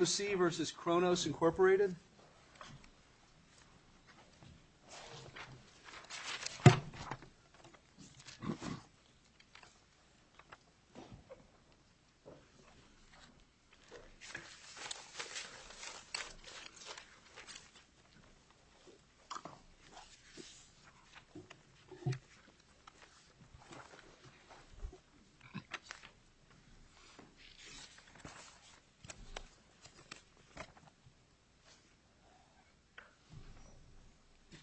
EEOC v. Kronos, Incorporated EEOC v. Kronos, Incorporated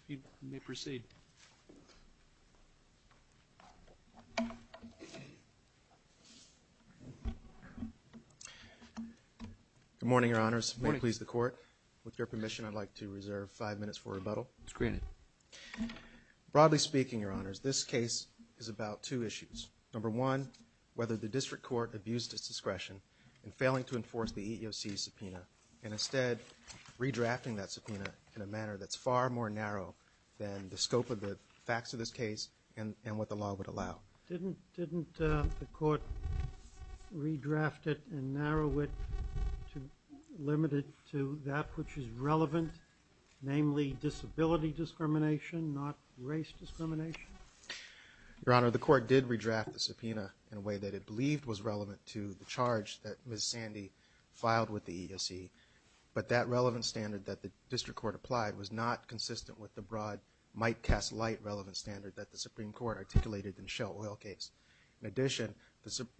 Good morning, Your Honors. May it please the Court, with your permission, I'd like to reserve five minutes for rebuttal. It's granted. Broadly speaking, Your Honors, this case is about two issues. Number one, whether the District Court abused its discretion in failing to enforce the EEOC subpoena, and instead redrafting that subpoena in a manner that's far more narrow than the scope of the facts of this case and what the law would allow. Didn't the Court redraft it and narrow it to limit it to that which is relevant, namely disability discrimination, not race discrimination? Your Honor, the Court did redraft the subpoena in a way that it believed was relevant to the charge that Ms. Sandy filed with the EEOC, but that relevant standard that the District Court applied was not consistent with the broad, might-cast-light relevant standard that the Supreme Court articulated in the Shell Oil case. In addition,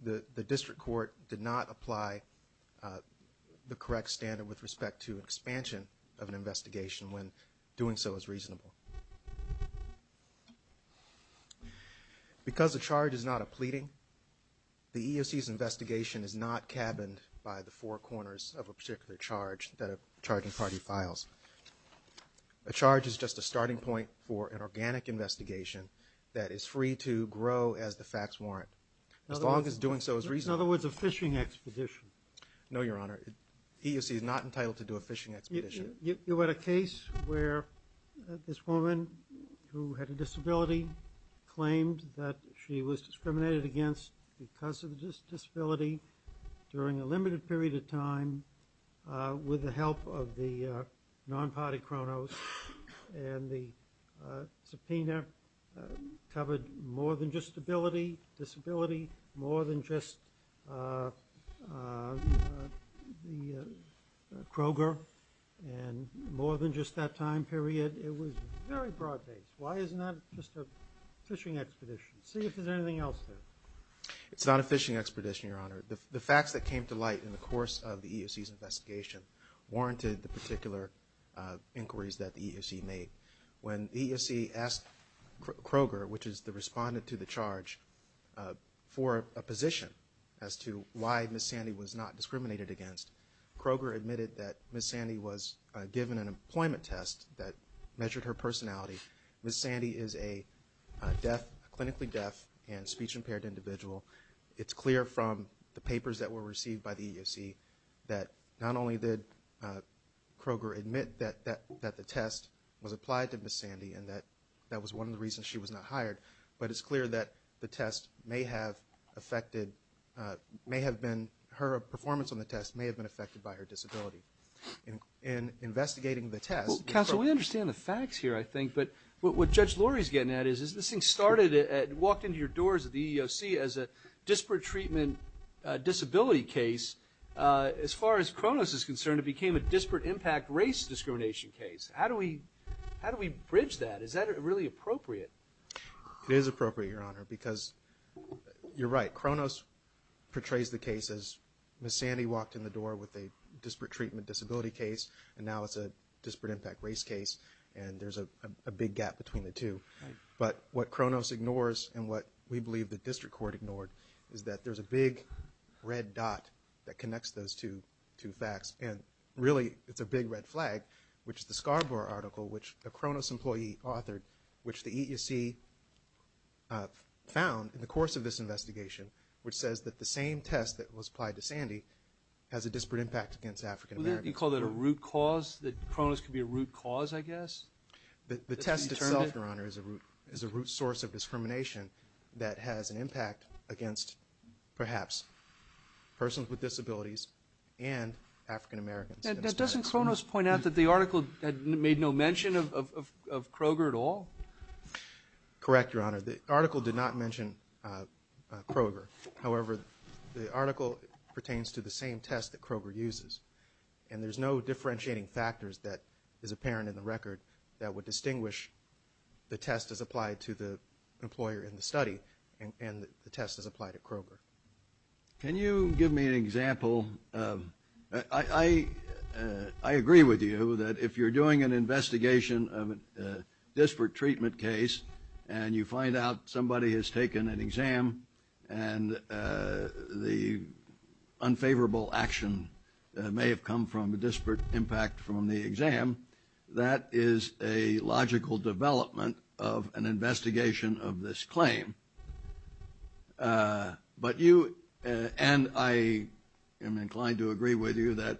the District Court did not apply the correct standard with respect to expansion of an investigation when doing so is reasonable. Because a charge is not a pleading, the EEOC's investigation is not cabined by the four corners of a particular charge that a charging party files. A charge is just a starting point for an organic investigation that is free to grow as the facts warrant, as long as doing so is reasonable. In other words, a fishing expedition. No, Your Honor. The EEOC is not entitled to do a fishing expedition. You had a case where this woman who had a disability claimed that she was discriminated against because of a disability during a limited period of time with the help of the non-party Kronos and the subpoena covered more than just disability, more than just disability of the Kroger and more than just that time period. It was very broad-based. Why isn't that just a fishing expedition? See if there's anything else there. It's not a fishing expedition, Your Honor. The facts that came to light in the course of the EEOC's investigation warranted the particular inquiries that the EEOC made. When the EEOC asked Kroger, which is the respondent to the charge, for a position as to why Ms. Sandy was not discriminated against, Kroger admitted that Ms. Sandy was given an employment test that measured her personality. Ms. Sandy is a deaf, clinically deaf and speech-impaired individual. It's clear from the papers that were received by the EEOC that not only did Kroger admit that the test was applied to Ms. Sandy and that that was one of the reasons why she was not hired, but it's clear that the test may have affected, may have been, her performance on the test may have been affected by her disability. In investigating the test, the Kroger- Counsel, we understand the facts here, I think, but what Judge Lurie's getting at is this thing started at, walked into your doors at the EEOC as a disparate treatment disability case. As far as Kronos is concerned, it became a disparate impact race discrimination case. How do we, how do we bridge that? Is that really appropriate? It is appropriate, Your Honor, because you're right, Kronos portrays the case as Ms. Sandy walked in the door with a disparate treatment disability case, and now it's a disparate impact race case, and there's a big gap between the two. But what Kronos ignores, and what we believe the District Court ignored, is that there's a big red dot that connects those two, two facts, and really, it's a big red flag, which is the Scarborough article, which a Kronos employee authored, which the EEOC found in the course of this investigation, which says that the same test that was applied to Sandy has a disparate impact against African-Americans. You call that a root cause, that Kronos could be a root cause, I guess? The test itself, Your Honor, is a root, is a root source of discrimination that has an impact on people with disabilities and African-Americans. Now doesn't Kronos point out that the article made no mention of Kroger at all? Correct, Your Honor. The article did not mention Kroger. However, the article pertains to the same test that Kroger uses, and there's no differentiating factors that is apparent in the record that would distinguish the test as applied to the employer in the study, and the test as applied at Kroger. Can you give me an example of – I agree with you that if you're doing an investigation of a disparate treatment case and you find out somebody has taken an exam and the unfavorable action may have come from a disparate impact from the exam, that is a logical development of an investigation of this claim. But you – and I am inclined to agree with you that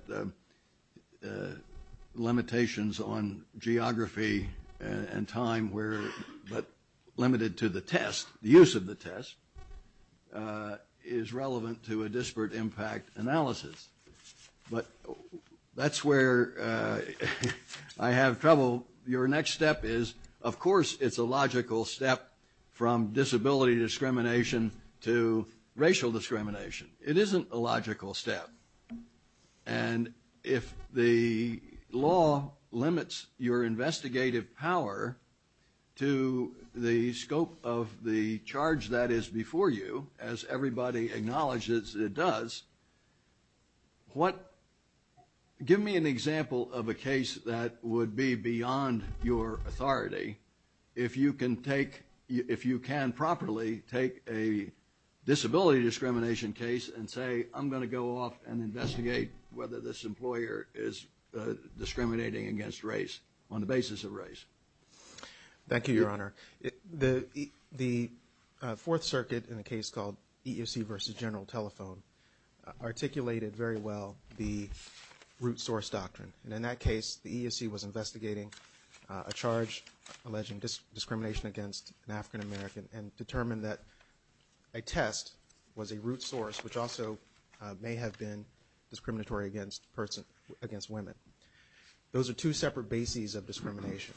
limitations on geography and time were – but limited to the test, the use of the test, is relevant to a disparate impact analysis. But that's where I have trouble. Your next step is – of course, it's a logical step from disability discrimination to racial discrimination. It isn't a logical step. And if the law limits your investigative power to the scope of the charge that is before you, as everybody acknowledges it does, what – give me an example of a case that would be beyond your authority if you can take – if you can properly take a disability discrimination case and say, I'm going to go off and investigate whether this employer is discriminating against race on the basis of race. Thank you, Your Honor. The Fourth Circuit in a case called EEOC v. General Telephone articulated very well the root source doctrine. And in that case, the EEOC was investigating a charge alleging discrimination against an African American and determined that a test was a root source, which also may have been discriminatory against women. Those are two separate bases of discrimination.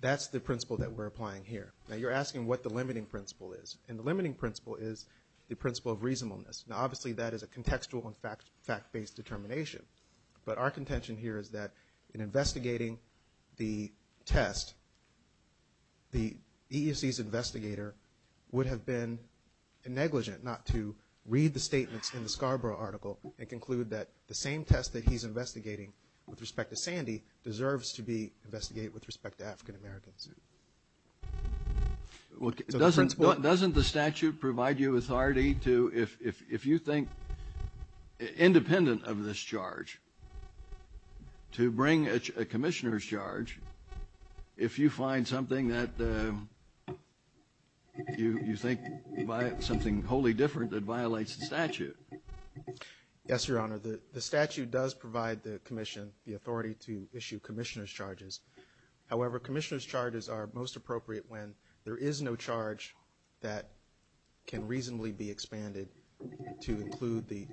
That's the principle that we're applying here. Now, you're asking what the limiting principle is. And the limiting principle is the principle of reasonableness. Now, obviously, that is a contextual and fact-based determination. But our contention here is that in investigating the test, the EEOC's investigator would have been negligent not to read the statements in the Scarborough article and conclude that the same test that he's investigating with respect to Sandy deserves to be investigated with respect to African Americans. Well, doesn't the statute provide you authority to, if you think independent of this charge, to bring a commissioner's charge if you find something that you think something wholly different that violates the statute? Yes, Your Honor. The statute does provide the commission the authority to issue commissioner's charges are most appropriate when there is no charge that can reasonably be expanded to include the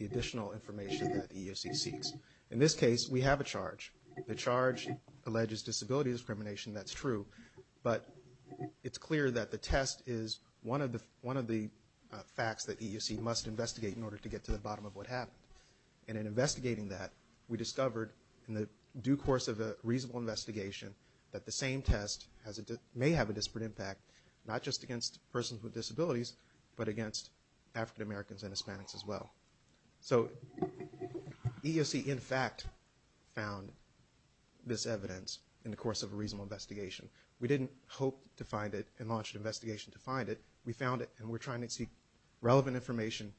additional information that the EEOC seeks. In this case, we have a charge. The charge alleges disability discrimination. That's true. But it's clear that the test is one of the facts that the EEOC must investigate in order to get to the bottom of what happened. And in investigating that, we discovered in the due course of a reasonable investigation that the same test may have a disparate impact, not just against persons with disabilities, but against African Americans and Hispanics as well. So EEOC, in fact, found this evidence in the course of a reasonable investigation. We didn't hope to find it and launched an investigation to find it. We found it, and we're trying to seek relevant information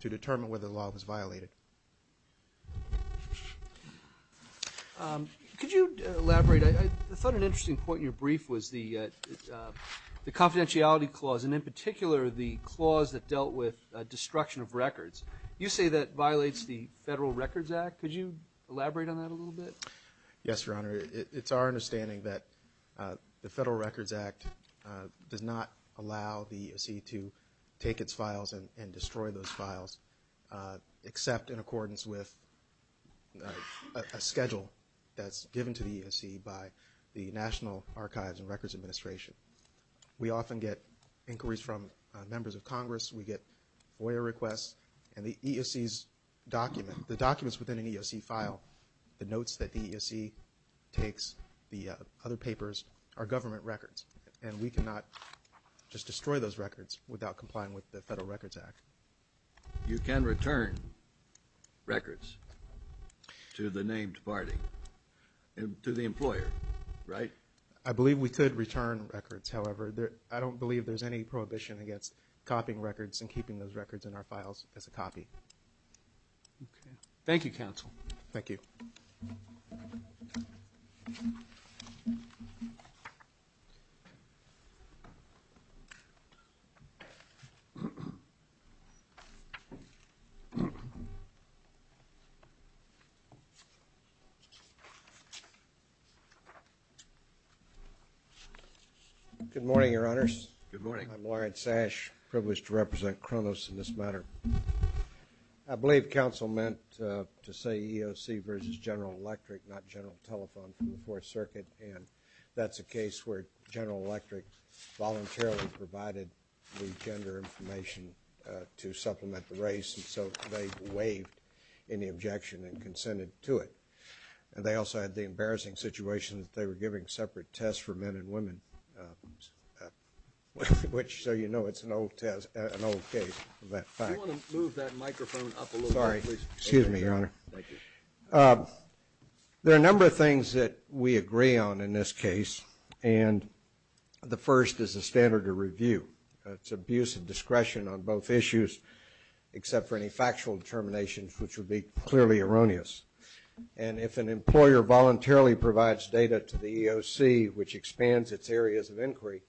to determine whether the law was violated. Could you elaborate? I thought an interesting point in your brief was the confidentiality clause, and in particular, the clause that dealt with destruction of records. You say that violates the Federal Records Act. Could you elaborate on that a little bit? Yes, Your Honor. It's our understanding that the Federal Records Act does not allow the EEOC to destroy records. It's not in accordance with a schedule that's given to the EEOC by the National Archives and Records Administration. We often get inquiries from members of Congress. We get FOIA requests. And the EEOC's document, the documents within an EEOC file, the notes that the EEOC takes, the other papers, are government records. And we cannot just destroy those records without complying with the Federal Records Act. You can return records to the named party, to the employer, right? I believe we could return records. However, I don't believe there's any prohibition against copying records and keeping those records in our files as a copy. Thank you, counsel. Thank you. Good morning, Your Honors. I'm Laurent Sash, privileged to represent Cronos in this matter. I believe counsel meant to say EEOC v. General Electric, not General Telephone from the Fourth Amendment, the gender information to supplement the race. And so they waived any objection and consented to it. And they also had the embarrassing situation that they were giving separate tests for men and women, which, so you know, it's an old test, an old case of that fact. If you want to move that microphone up a little bit, please. Sorry. Excuse me, Your Honor. There are a number of things that we agree on in this case. And the first is the standard of review. It's abuse of discretion on both issues, except for any factual determinations, which would be clearly erroneous. And if an employer voluntarily provides data to the EEOC, which expands its areas of inquiry,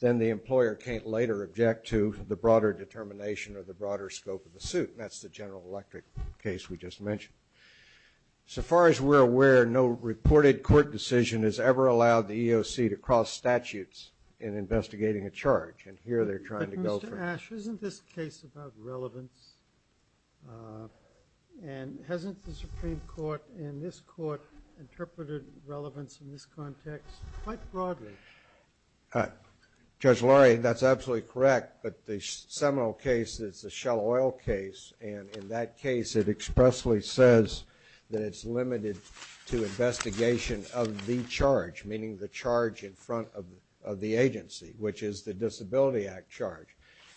then the employer can't later object to the broader determination or the broader scope of the suit. And that's the General Electric case we just mentioned. So far as we're aware, no reported court decision has ever allowed the EEOC to cross statutes in investigating a charge. And here they're trying to go for it. But Mr. Ash, isn't this case about relevance? And hasn't the Supreme Court in this court interpreted relevance in this context quite broadly? Judge Laurie, that's absolutely correct. But the seminal case is the Shell Oil case. And in that case, it expressly says that it's limited to investigation of the charge, meaning the charge in front of the agency, which is the Disability Act charge.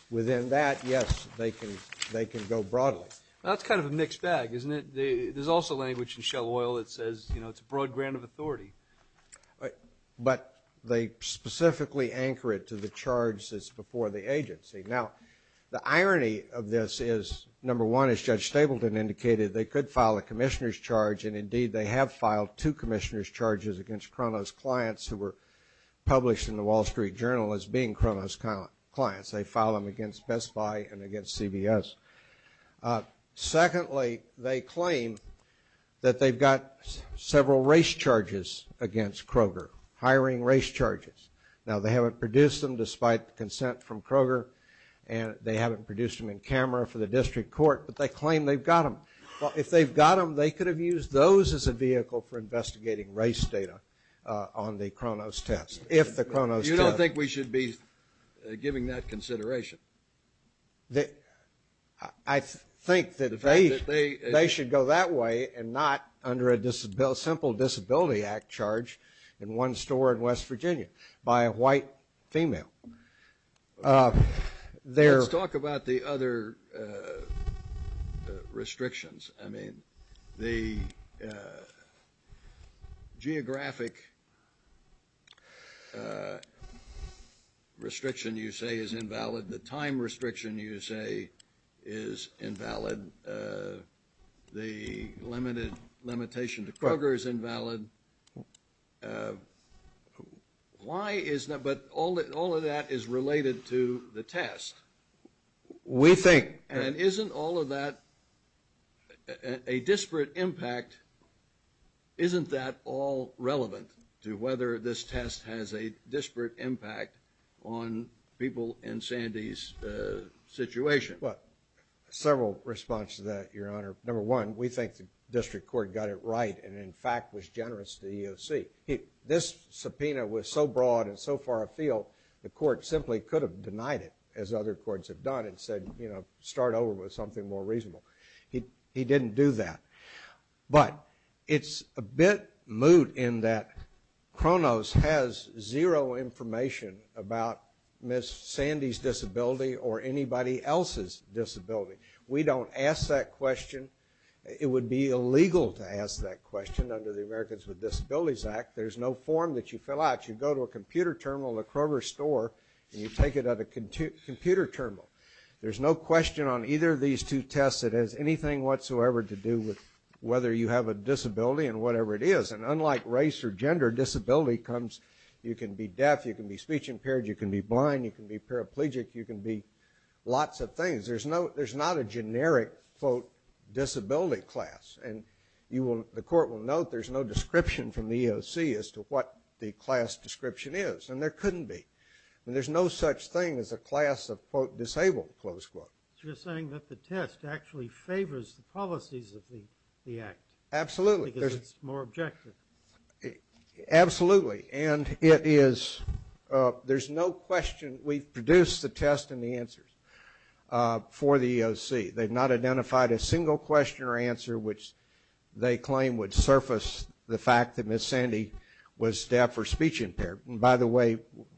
Within that, yes, they can go broadly. That's kind of a mixed bag, isn't it? There's also language in Shell Oil that says it's a broad grant of authority. But they specifically anchor it to the charge that's before the agency. Now, the irony of this is, number one, as Judge Stapleton indicated, they could file a commissioner's charges against Kronos Clients, who were published in the Wall Street Journal as being Kronos Clients. They filed them against Best Buy and against CBS. Secondly, they claim that they've got several race charges against Kroger, hiring race charges. Now, they haven't produced them, despite consent from Kroger. And they haven't produced them in camera for the district court. But they claim they've got them. Well, if they've got them, they could have used those as a vehicle for investigating race data on the Kronos test, if the Kronos test. You don't think we should be giving that consideration? I think that they should go that way and not under a simple Disability Act charge in one store in West Virginia by a white female. Let's talk about the other restrictions. I mean, the geographic restriction you say is invalid, the time restriction you say is invalid, the limited limitation to Kroger is invalid. Why is that? But all of that is related to the test. We think. And isn't all of that a disparate impact? Isn't that all relevant to whether this test has a disparate impact on people in Sandy's situation? Well, several responses to that, Your Honor. Number one, we think the district court got it right and in fact was generous to the EOC. This subpoena was so broad and so far afield, the court simply could have denied it as other courts have done and said, you know, start over with something more reasonable. He didn't do that. But it's a bit moot in that Kronos has zero information about Ms. Sandy's disability or anybody else's disability. We don't ask that question. It would be illegal to ask that question under the Americans with Disabilities Act. There's no form that you fill out. You go to a computer terminal in a Kroger store and you take it at a computer terminal. There's no question on either of these two tests that has anything whatsoever to do with whether you have a disability and whatever it is. And unlike race or gender, disability comes, you can be deaf, you can be speech impaired, you can be blind, you can be paraplegic, you can be lots of things. There's not a generic, quote, disability class. And the court will note there's no description from the EOC as to what the class description is and there couldn't be. And there's no such thing as a class of, quote, disabled, close quote. So you're saying that the test actually favors the policies of the act. Absolutely. Because it's more objective. Absolutely. And it is, there's no question. We've produced the test and the answers for the EOC. They've not identified a single question or answer which they claim would surface the fact that Ms. Sandy was deaf or speech impaired. By the way,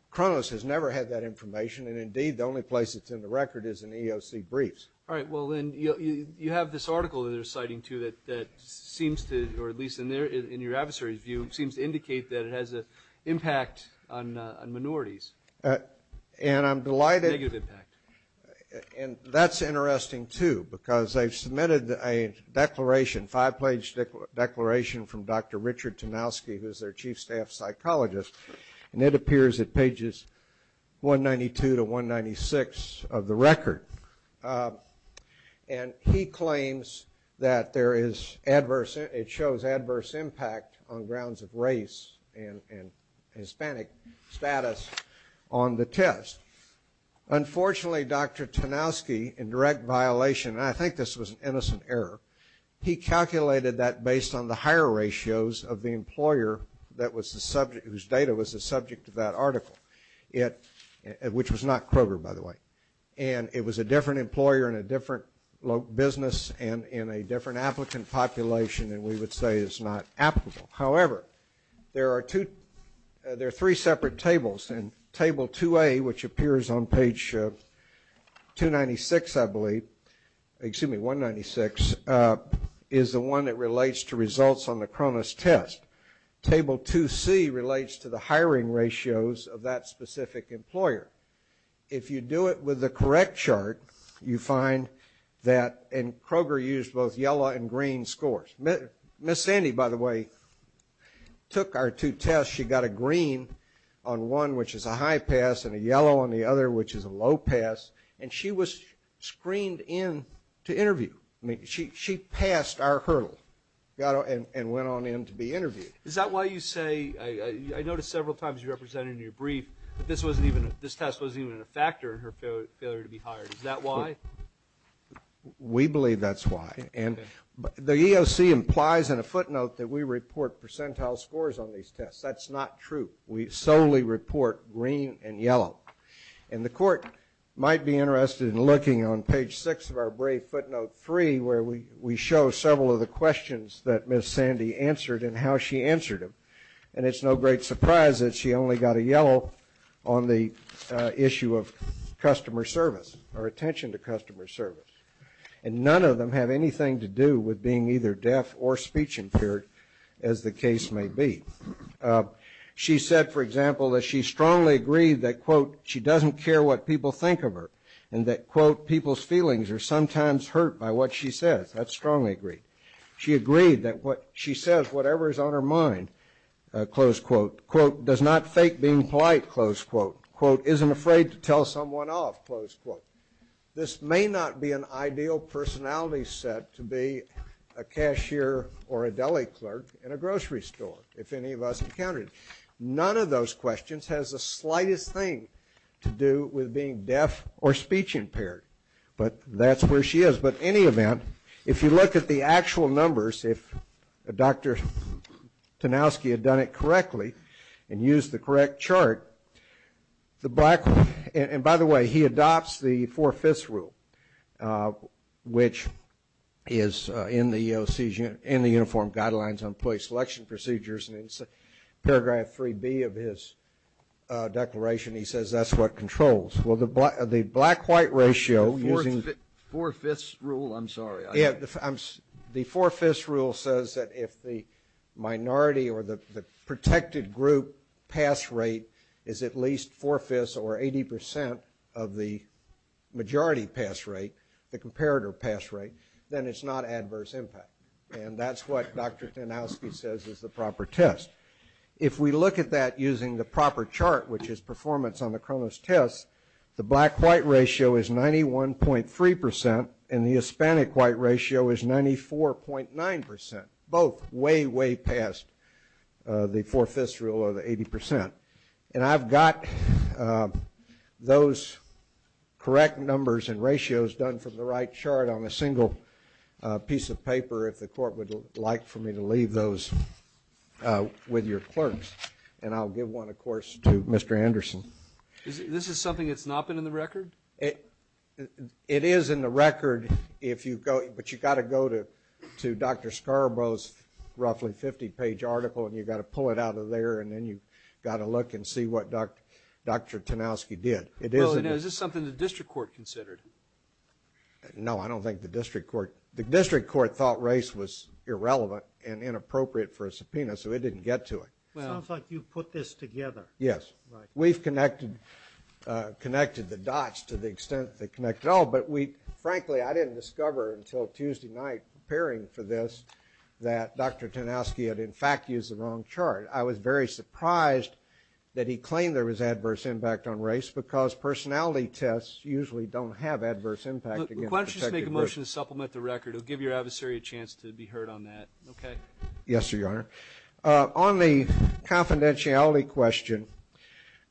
Kronos has never had that information and indeed the only place it's in the record is in the EOC briefs. All right, well then, you have this article that they're citing too that seems to, or at least in your adversary's view, seems to indicate that it has an impact on minorities. And I'm delighted. Negative impact. And that's interesting too because they've submitted a declaration, five-page declaration from Dr. Richard Tomowski, who's their chief staff psychologist, and it appears at pages 192 to 196 of the record. And he claims that there is adverse, it shows adverse impact on grounds of race and Hispanic status on the test. Unfortunately, Dr. Tomowski, in direct violation, and I think this was an innocent error, he calculated that based on the higher ratios of the employer whose data was the subject of that article, which was not Kroger, by the way. And it was a different employer in a different business and in a different applicant population and we would say it's not applicable. However, there are two, there are three separate tables and table 2A, which appears on page 296, I believe, excuse me, 196, is the one that relates to results on the Cronus test. Table 2C relates to the hiring ratios of that specific employer. If you do it with the correct chart, you find that, and Kroger used both yellow and green scores. Ms. Sandy, by the way, took our two tests. She got a green on one, which is a high pass, and a yellow on the other, which is a low pass. And she was screened in to interview. She passed our hurdle and went on in to be interviewed. Is that why you say, I noticed several times you represented in your brief that this test wasn't even a factor in her failure to be hired, is that why? We believe that's why. And the EOC implies in a footnote that we report percentile scores on these tests. That's not true. We solely report green and yellow. And the court might be interested in looking on page 6 of our brief footnote 3, where we show several of the questions that Ms. Sandy answered and how she answered them. And it's no great surprise that she only got a yellow on the issue of customer service or attention to customer service. And none of them have anything to do with being either deaf or speech impaired, as the case may be. She said, for example, that she strongly agreed that, quote, she doesn't care what people think of her, and that, quote, people's feelings are sometimes hurt by what she says. That's strongly agreed. She agreed that what she says, whatever is on her mind, close quote, quote, does not fake being polite, close quote, quote, isn't afraid to tell someone off, close quote. This may not be an ideal personality set to be a cashier or a deli clerk in a grocery store, if any of us encounter it. None of those questions has the slightest thing to do with being deaf or speech impaired. But that's where she is. But any event, if you look at the actual numbers, if Dr. Tanowski had done it correctly and used the correct chart, the black, and by the way, he adopts the four-fifths rule, which is in the EOC, in the Uniform Guidelines on Police Selection Procedures, and it's paragraph 3B of his declaration. He says that's what controls. Well, the black-white ratio, using the four-fifths rule, I'm sorry, I'm, the four-fifths rule says that if the minority or the protected group pass rate is at least four-fifths or 80% of the majority pass rate, the comparator pass rate, then it's not adverse impact. And that's what Dr. Tanowski says is the proper test. If we look at that using the proper chart, which is performance on the Chronos test, the black-white ratio is 91.3%, and the Hispanic-white ratio is 94.9%, both way, way past the four-fifths rule or the 80%. And I've got those correct numbers and ratios done from the right chart on a single piece of paper if the court would like for me to leave those with your clerks. And I'll give one, of course, to Mr. Anderson. This is something that's not been in the record? It is in the record if you go, but you've got to go to Dr. Scarborough's roughly 50-page article and you've got to pull it out of there and then you've got to look and see what Dr. Tanowski did. Well, you know, is this something the district court considered? No, I don't think the district court, the district court thought race was irrelevant and inappropriate for a subpoena, so it didn't get to it. It sounds like you put this together. Yes, we've connected the dots to the extent they connect at all, but we, frankly, I didn't discover until Tuesday night preparing for this that Dr. Tanowski had, in fact, used the wrong chart. I was very surprised that he claimed there was adverse impact on race because personality tests usually don't have adverse impact against protected groups. Why don't you just make a motion to supplement the record? It'll give your adversary a chance to be heard on that, okay? Yes, sir, Your Honor. On the confidentiality question,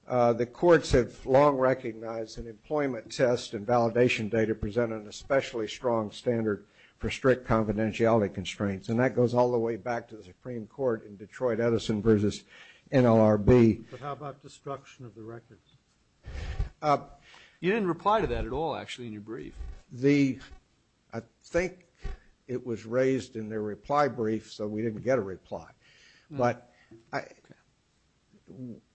the courts have long recognized that employment tests and validation data present an especially strong standard for strict confidentiality constraints, and that goes all the way back to the Supreme Court in Detroit Edison versus NLRB. But how about destruction of the records? You didn't reply to that at all, actually, in your brief. The – I think it was raised in their reply brief, so we didn't get a reply. But I –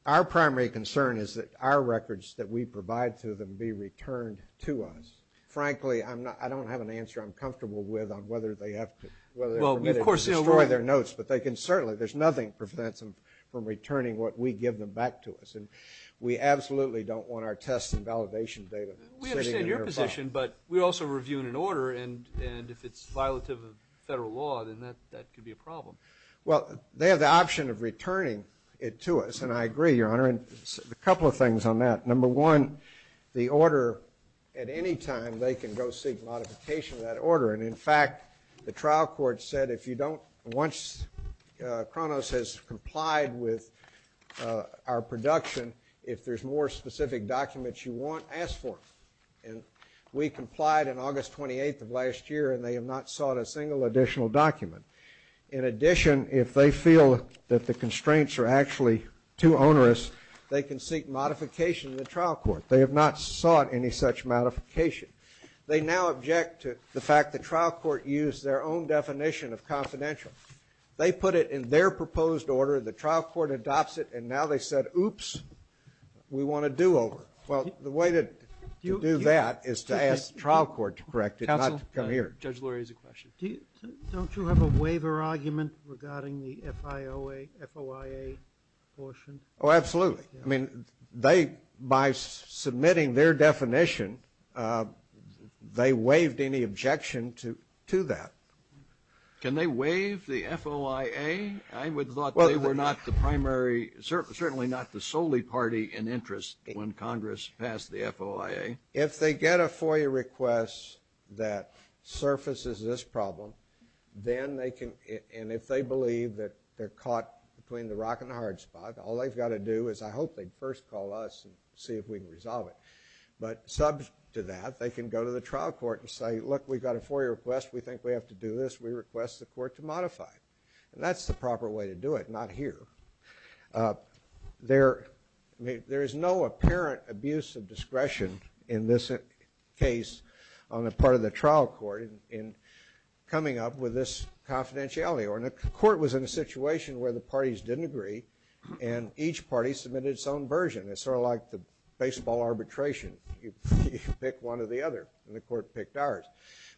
our primary concern is that our records that we provide to them be returned to us. Frankly, I'm not – I don't have an answer I'm comfortable with on whether they have to – whether they're permitted to destroy their notes, but they can certainly – there's nothing prevents them from returning what we give them back to us, and we absolutely don't want our tests and validation data sitting in their file. But we're also reviewing an order, and if it's violative of federal law, then that could be a problem. Well, they have the option of returning it to us, and I agree, Your Honor, and a couple of things on that. Number one, the order – at any time, they can go seek modification of that order, and in fact, the trial court said if you don't – once Kronos has complied with our production, if there's more specific documents you want, ask for it. And we complied on August 28th of last year, and they have not sought a single additional document. In addition, if they feel that the constraints are actually too onerous, they can seek modification of the trial court. They have not sought any such modification. They now object to the fact the trial court used their own definition of confidential. They put it in their proposed order, the trial court adopts it, and now they said, oops, we want a do-over. Well, the way to do that is to ask the trial court to correct it, not to come here. Counsel, Judge Lurie has a question. Don't you have a waiver argument regarding the FIOA – FOIA portion? Oh, absolutely. I mean, they – by submitting their definition, they waived any objection to that. Can they waive the FOIA? I would have thought they were not the primary – certainly not the solely party in interest when Congress passed the FOIA. If they get a FOIA request that surfaces this problem, then they can – and if they believe that they're caught between the rock and the hard spot, all they've got to do is I hope they'd first call us and see if we can resolve it. But subject to that, they can go to the trial court and say, look, we've got a FOIA request We think we have to do this. We request the court to modify it. And that's the proper way to do it, not here. There – I mean, there is no apparent abuse of discretion in this case on the part of the trial court in coming up with this confidentiality. Or the court was in a situation where the parties didn't agree, and each party submitted its own version. It's sort of like the baseball arbitration. You pick one or the other, and the court picked ours.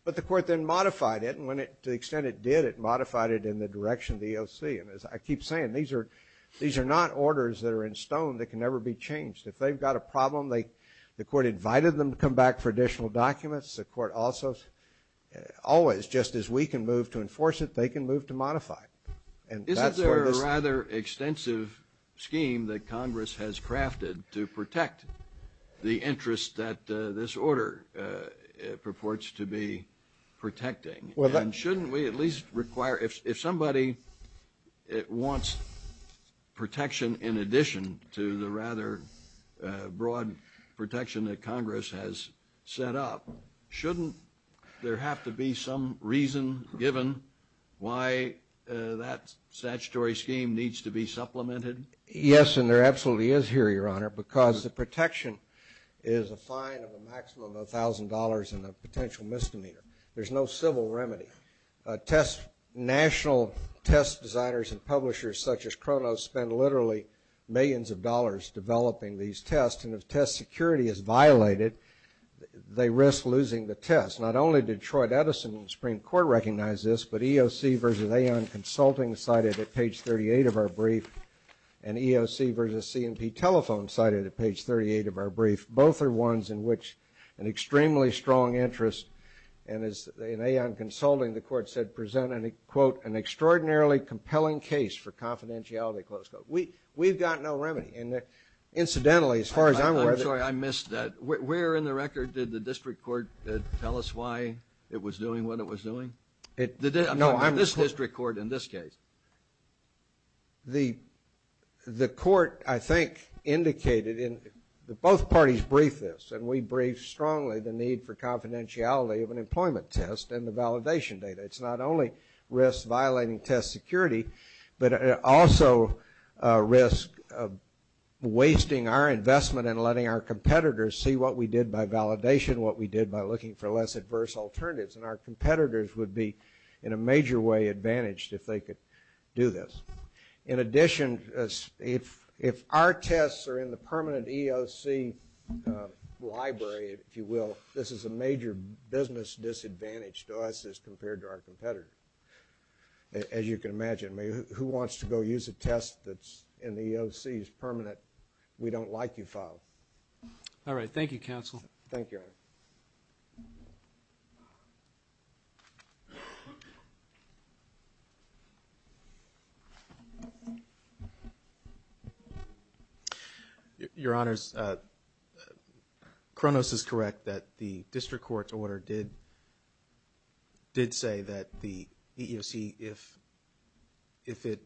But the court then modified it, and when it – to the extent it did, it modified it in the direction of the EOC. And as I keep saying, these are not orders that are in stone that can never be changed. If they've got a problem, they – the court invited them to come back for additional documents. The court also – always, just as we can move to enforce it, they can move to modify. And that's where this – Isn't there a rather extensive scheme that Congress has crafted to protect the interests that this order purports to be protecting? And shouldn't we at least require – if somebody wants protection in addition to the rather broad protection that Congress has set up, shouldn't there have to be some reason given why that statutory scheme needs to be supplemented? Yes, and there absolutely is here, Your Honor, because the protection is a fine of a maximum of $1,000 and a potential misdemeanor. There's no civil remedy. Test – national test designers and publishers such as Cronos spend literally millions of dollars developing these tests, and if test security is violated, they risk losing the test. Not only did Troy Edison in the Supreme Court recognize this, but EOC versus Aon Consulting cited at page 38 of our brief, and EOC versus C&P Telephone cited at page 38 of our brief. Both are ones in which an extremely strong interest, and as – in Aon Consulting, the court said, present, quote, an extraordinarily compelling case for confidentiality, close quote. We've got no remedy. And incidentally, as far as I'm aware – I'm sorry. I missed that. Where in the record did the district court tell us why it was doing what it was doing? No, I'm – This district court in this case. The court, I think, indicated in – both parties briefed this, and we briefed strongly the need for confidentiality of an employment test and the validation data. It's not only risk violating test security, but also a risk of wasting our investment and letting our competitors see what we did by validation, what we did by looking for less adverse alternatives. And our competitors would be, in a major way, advantaged if they could do this. In addition, if our tests are in the permanent EOC library, if you will, this is a major business disadvantage to us as compared to our competitors, as you can imagine. Who wants to go use a test that's in the EOC's permanent, we-don't-like-you file? All right. Thank you, counsel. Thank you. Thank you, sir. Your Honors, Kronos is correct that the district court's order did say that the EEOC, if it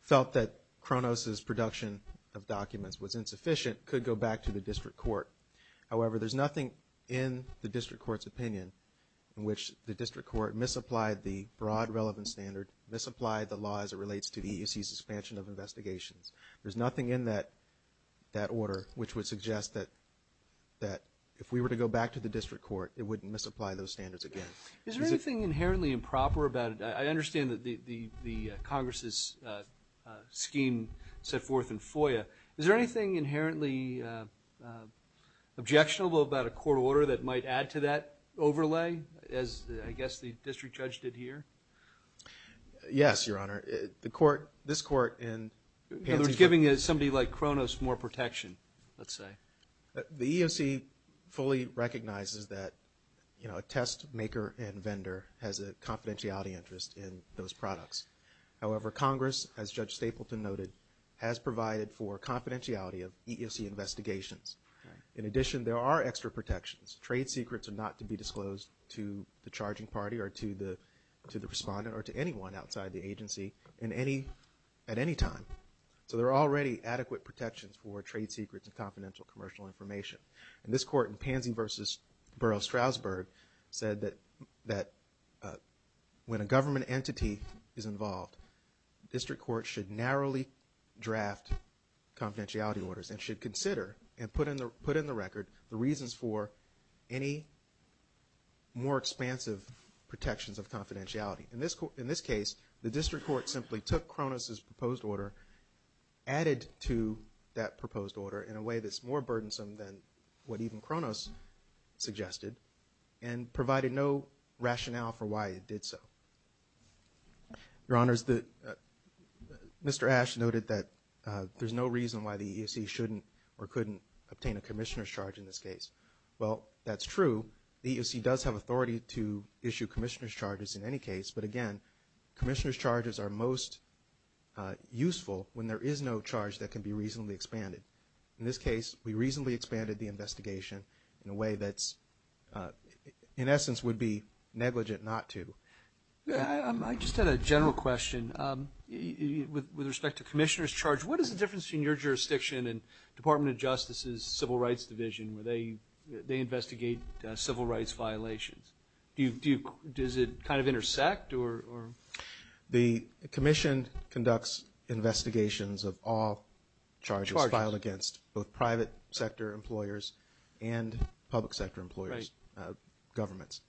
felt that Kronos' production of documents was insufficient, could go back to the district court. However, there's nothing in the district court's opinion in which the district court misapplied the broad relevant standard, misapplied the law as it relates to the EEOC's suspension of investigations. There's nothing in that order which would suggest that if we were to go back to the district court, it wouldn't misapply those standards again. Is there anything inherently improper about it? I understand that the Congress' scheme set forth in FOIA. Is there anything inherently objectionable about a court order that might add to that overlay as, I guess, the district judge did here? Yes, Your Honor. The court, this court, in- In other words, giving somebody like Kronos more protection, let's say. The EEOC fully recognizes that a test maker and vendor has a confidentiality interest in those products. However, Congress, as Judge Stapleton noted, has provided for confidentiality of EEOC investigations. In addition, there are extra protections. Trade secrets are not to be disclosed to the charging party or to the respondent or to anyone outside the agency at any time. So there are already adequate protections for trade secrets and confidential commercial information. This court in Pansy v. Burroughs-Strasburg said that when a government entity is involved, district court should narrowly draft confidentiality orders and should consider and put in the record the reasons for any more expansive protections of confidentiality. In this case, the district court simply took Kronos' proposed order, added to that proposed one, some then what even Kronos suggested, and provided no rationale for why it did so. Your Honors, Mr. Ash noted that there's no reason why the EEOC shouldn't or couldn't obtain a commissioner's charge in this case. Well, that's true. The EEOC does have authority to issue commissioner's charges in any case, but again, commissioner's charges are most useful when there is no charge that can be reasonably expanded. In this case, we reasonably expanded the investigation in a way that's, in essence, would be negligent not to. I just had a general question. With respect to commissioner's charge, what is the difference between your jurisdiction and Department of Justice's Civil Rights Division, where they investigate civil rights violations? Does it kind of intersect? The commission conducts investigations of all charges filed against both private sector employers and public sector employers, governments.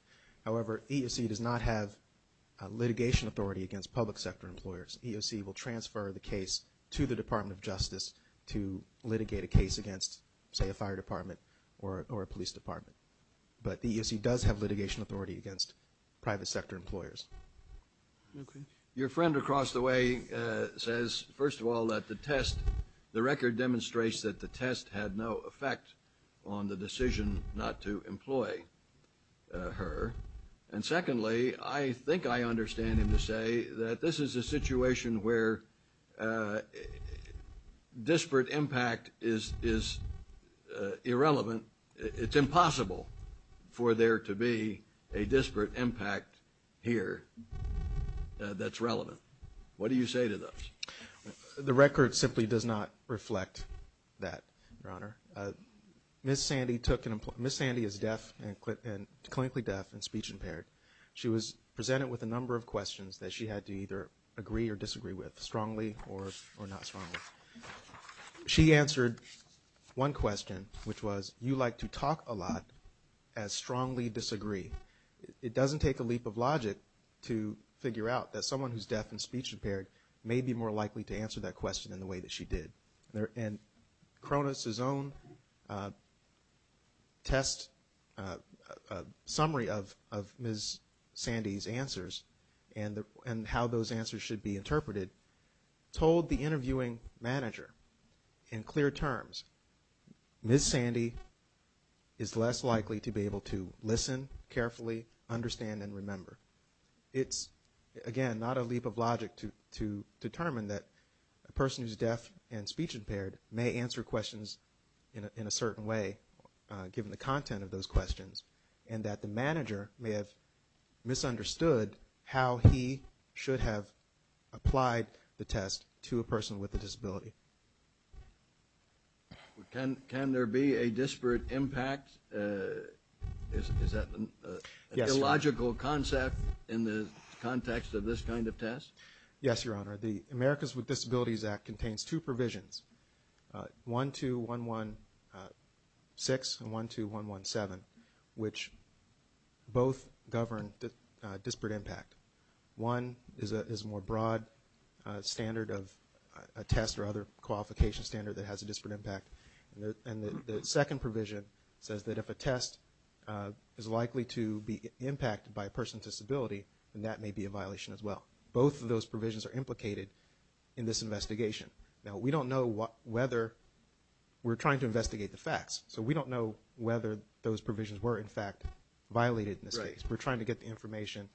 However, EEOC does not have litigation authority against public sector employers. EEOC will transfer the case to the Department of Justice to litigate a case against, say, a fire department or a police department. But the EEOC does have litigation authority against private sector employers. Your friend across the way says, first of all, that the test, the record demonstrates that the test had no effect on the decision not to employ her. And secondly, I think I understand him to say that this is a situation where disparate impact is irrelevant. It's impossible for there to be a disparate impact here that's relevant. What do you say to this? The record simply does not reflect that, Your Honor. Ms. Sandy took an – Ms. Sandy is deaf and – clinically deaf and speech-impaired. She was presented with a number of questions that she had to either agree or disagree with, strongly or not strongly. She answered one question, which was, you like to talk a lot, as strongly disagree. It doesn't take a leap of logic to figure out that someone who's deaf and speech-impaired may be more likely to answer that question in the way that she did. And Cronus' own test summary of Ms. Sandy's answers and how those answers should be interpreted told the interviewing manager in clear terms, Ms. Sandy is less likely to be able to listen carefully, understand, and remember. It's, again, not a leap of logic to determine that a person who's deaf and speech-impaired may answer questions in a certain way, given the content of those questions, and that the test to a person with a disability. Can there be a disparate impact? Is that an illogical concept in the context of this kind of test? Yes, Your Honor. The Americas with Disabilities Act contains two provisions, 12116 and 12117, which both govern disparate impact. One is a more broad standard of a test or other qualification standard that has a disparate impact, and the second provision says that if a test is likely to be impacted by a person with a disability, then that may be a violation as well. Both of those provisions are implicated in this investigation. Now, we don't know whether we're trying to investigate the facts, so we don't know whether those provisions were, in fact, violated in this case. We're trying to get the information,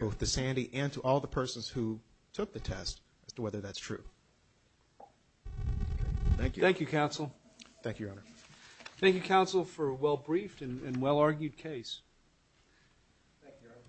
both to Sandy and to all the persons who took the test, as to whether that's true. Thank you. Thank you, counsel. Thank you, Your Honor. Thank you, counsel, for a well-briefed and well-argued case. Thank you, Your Honor.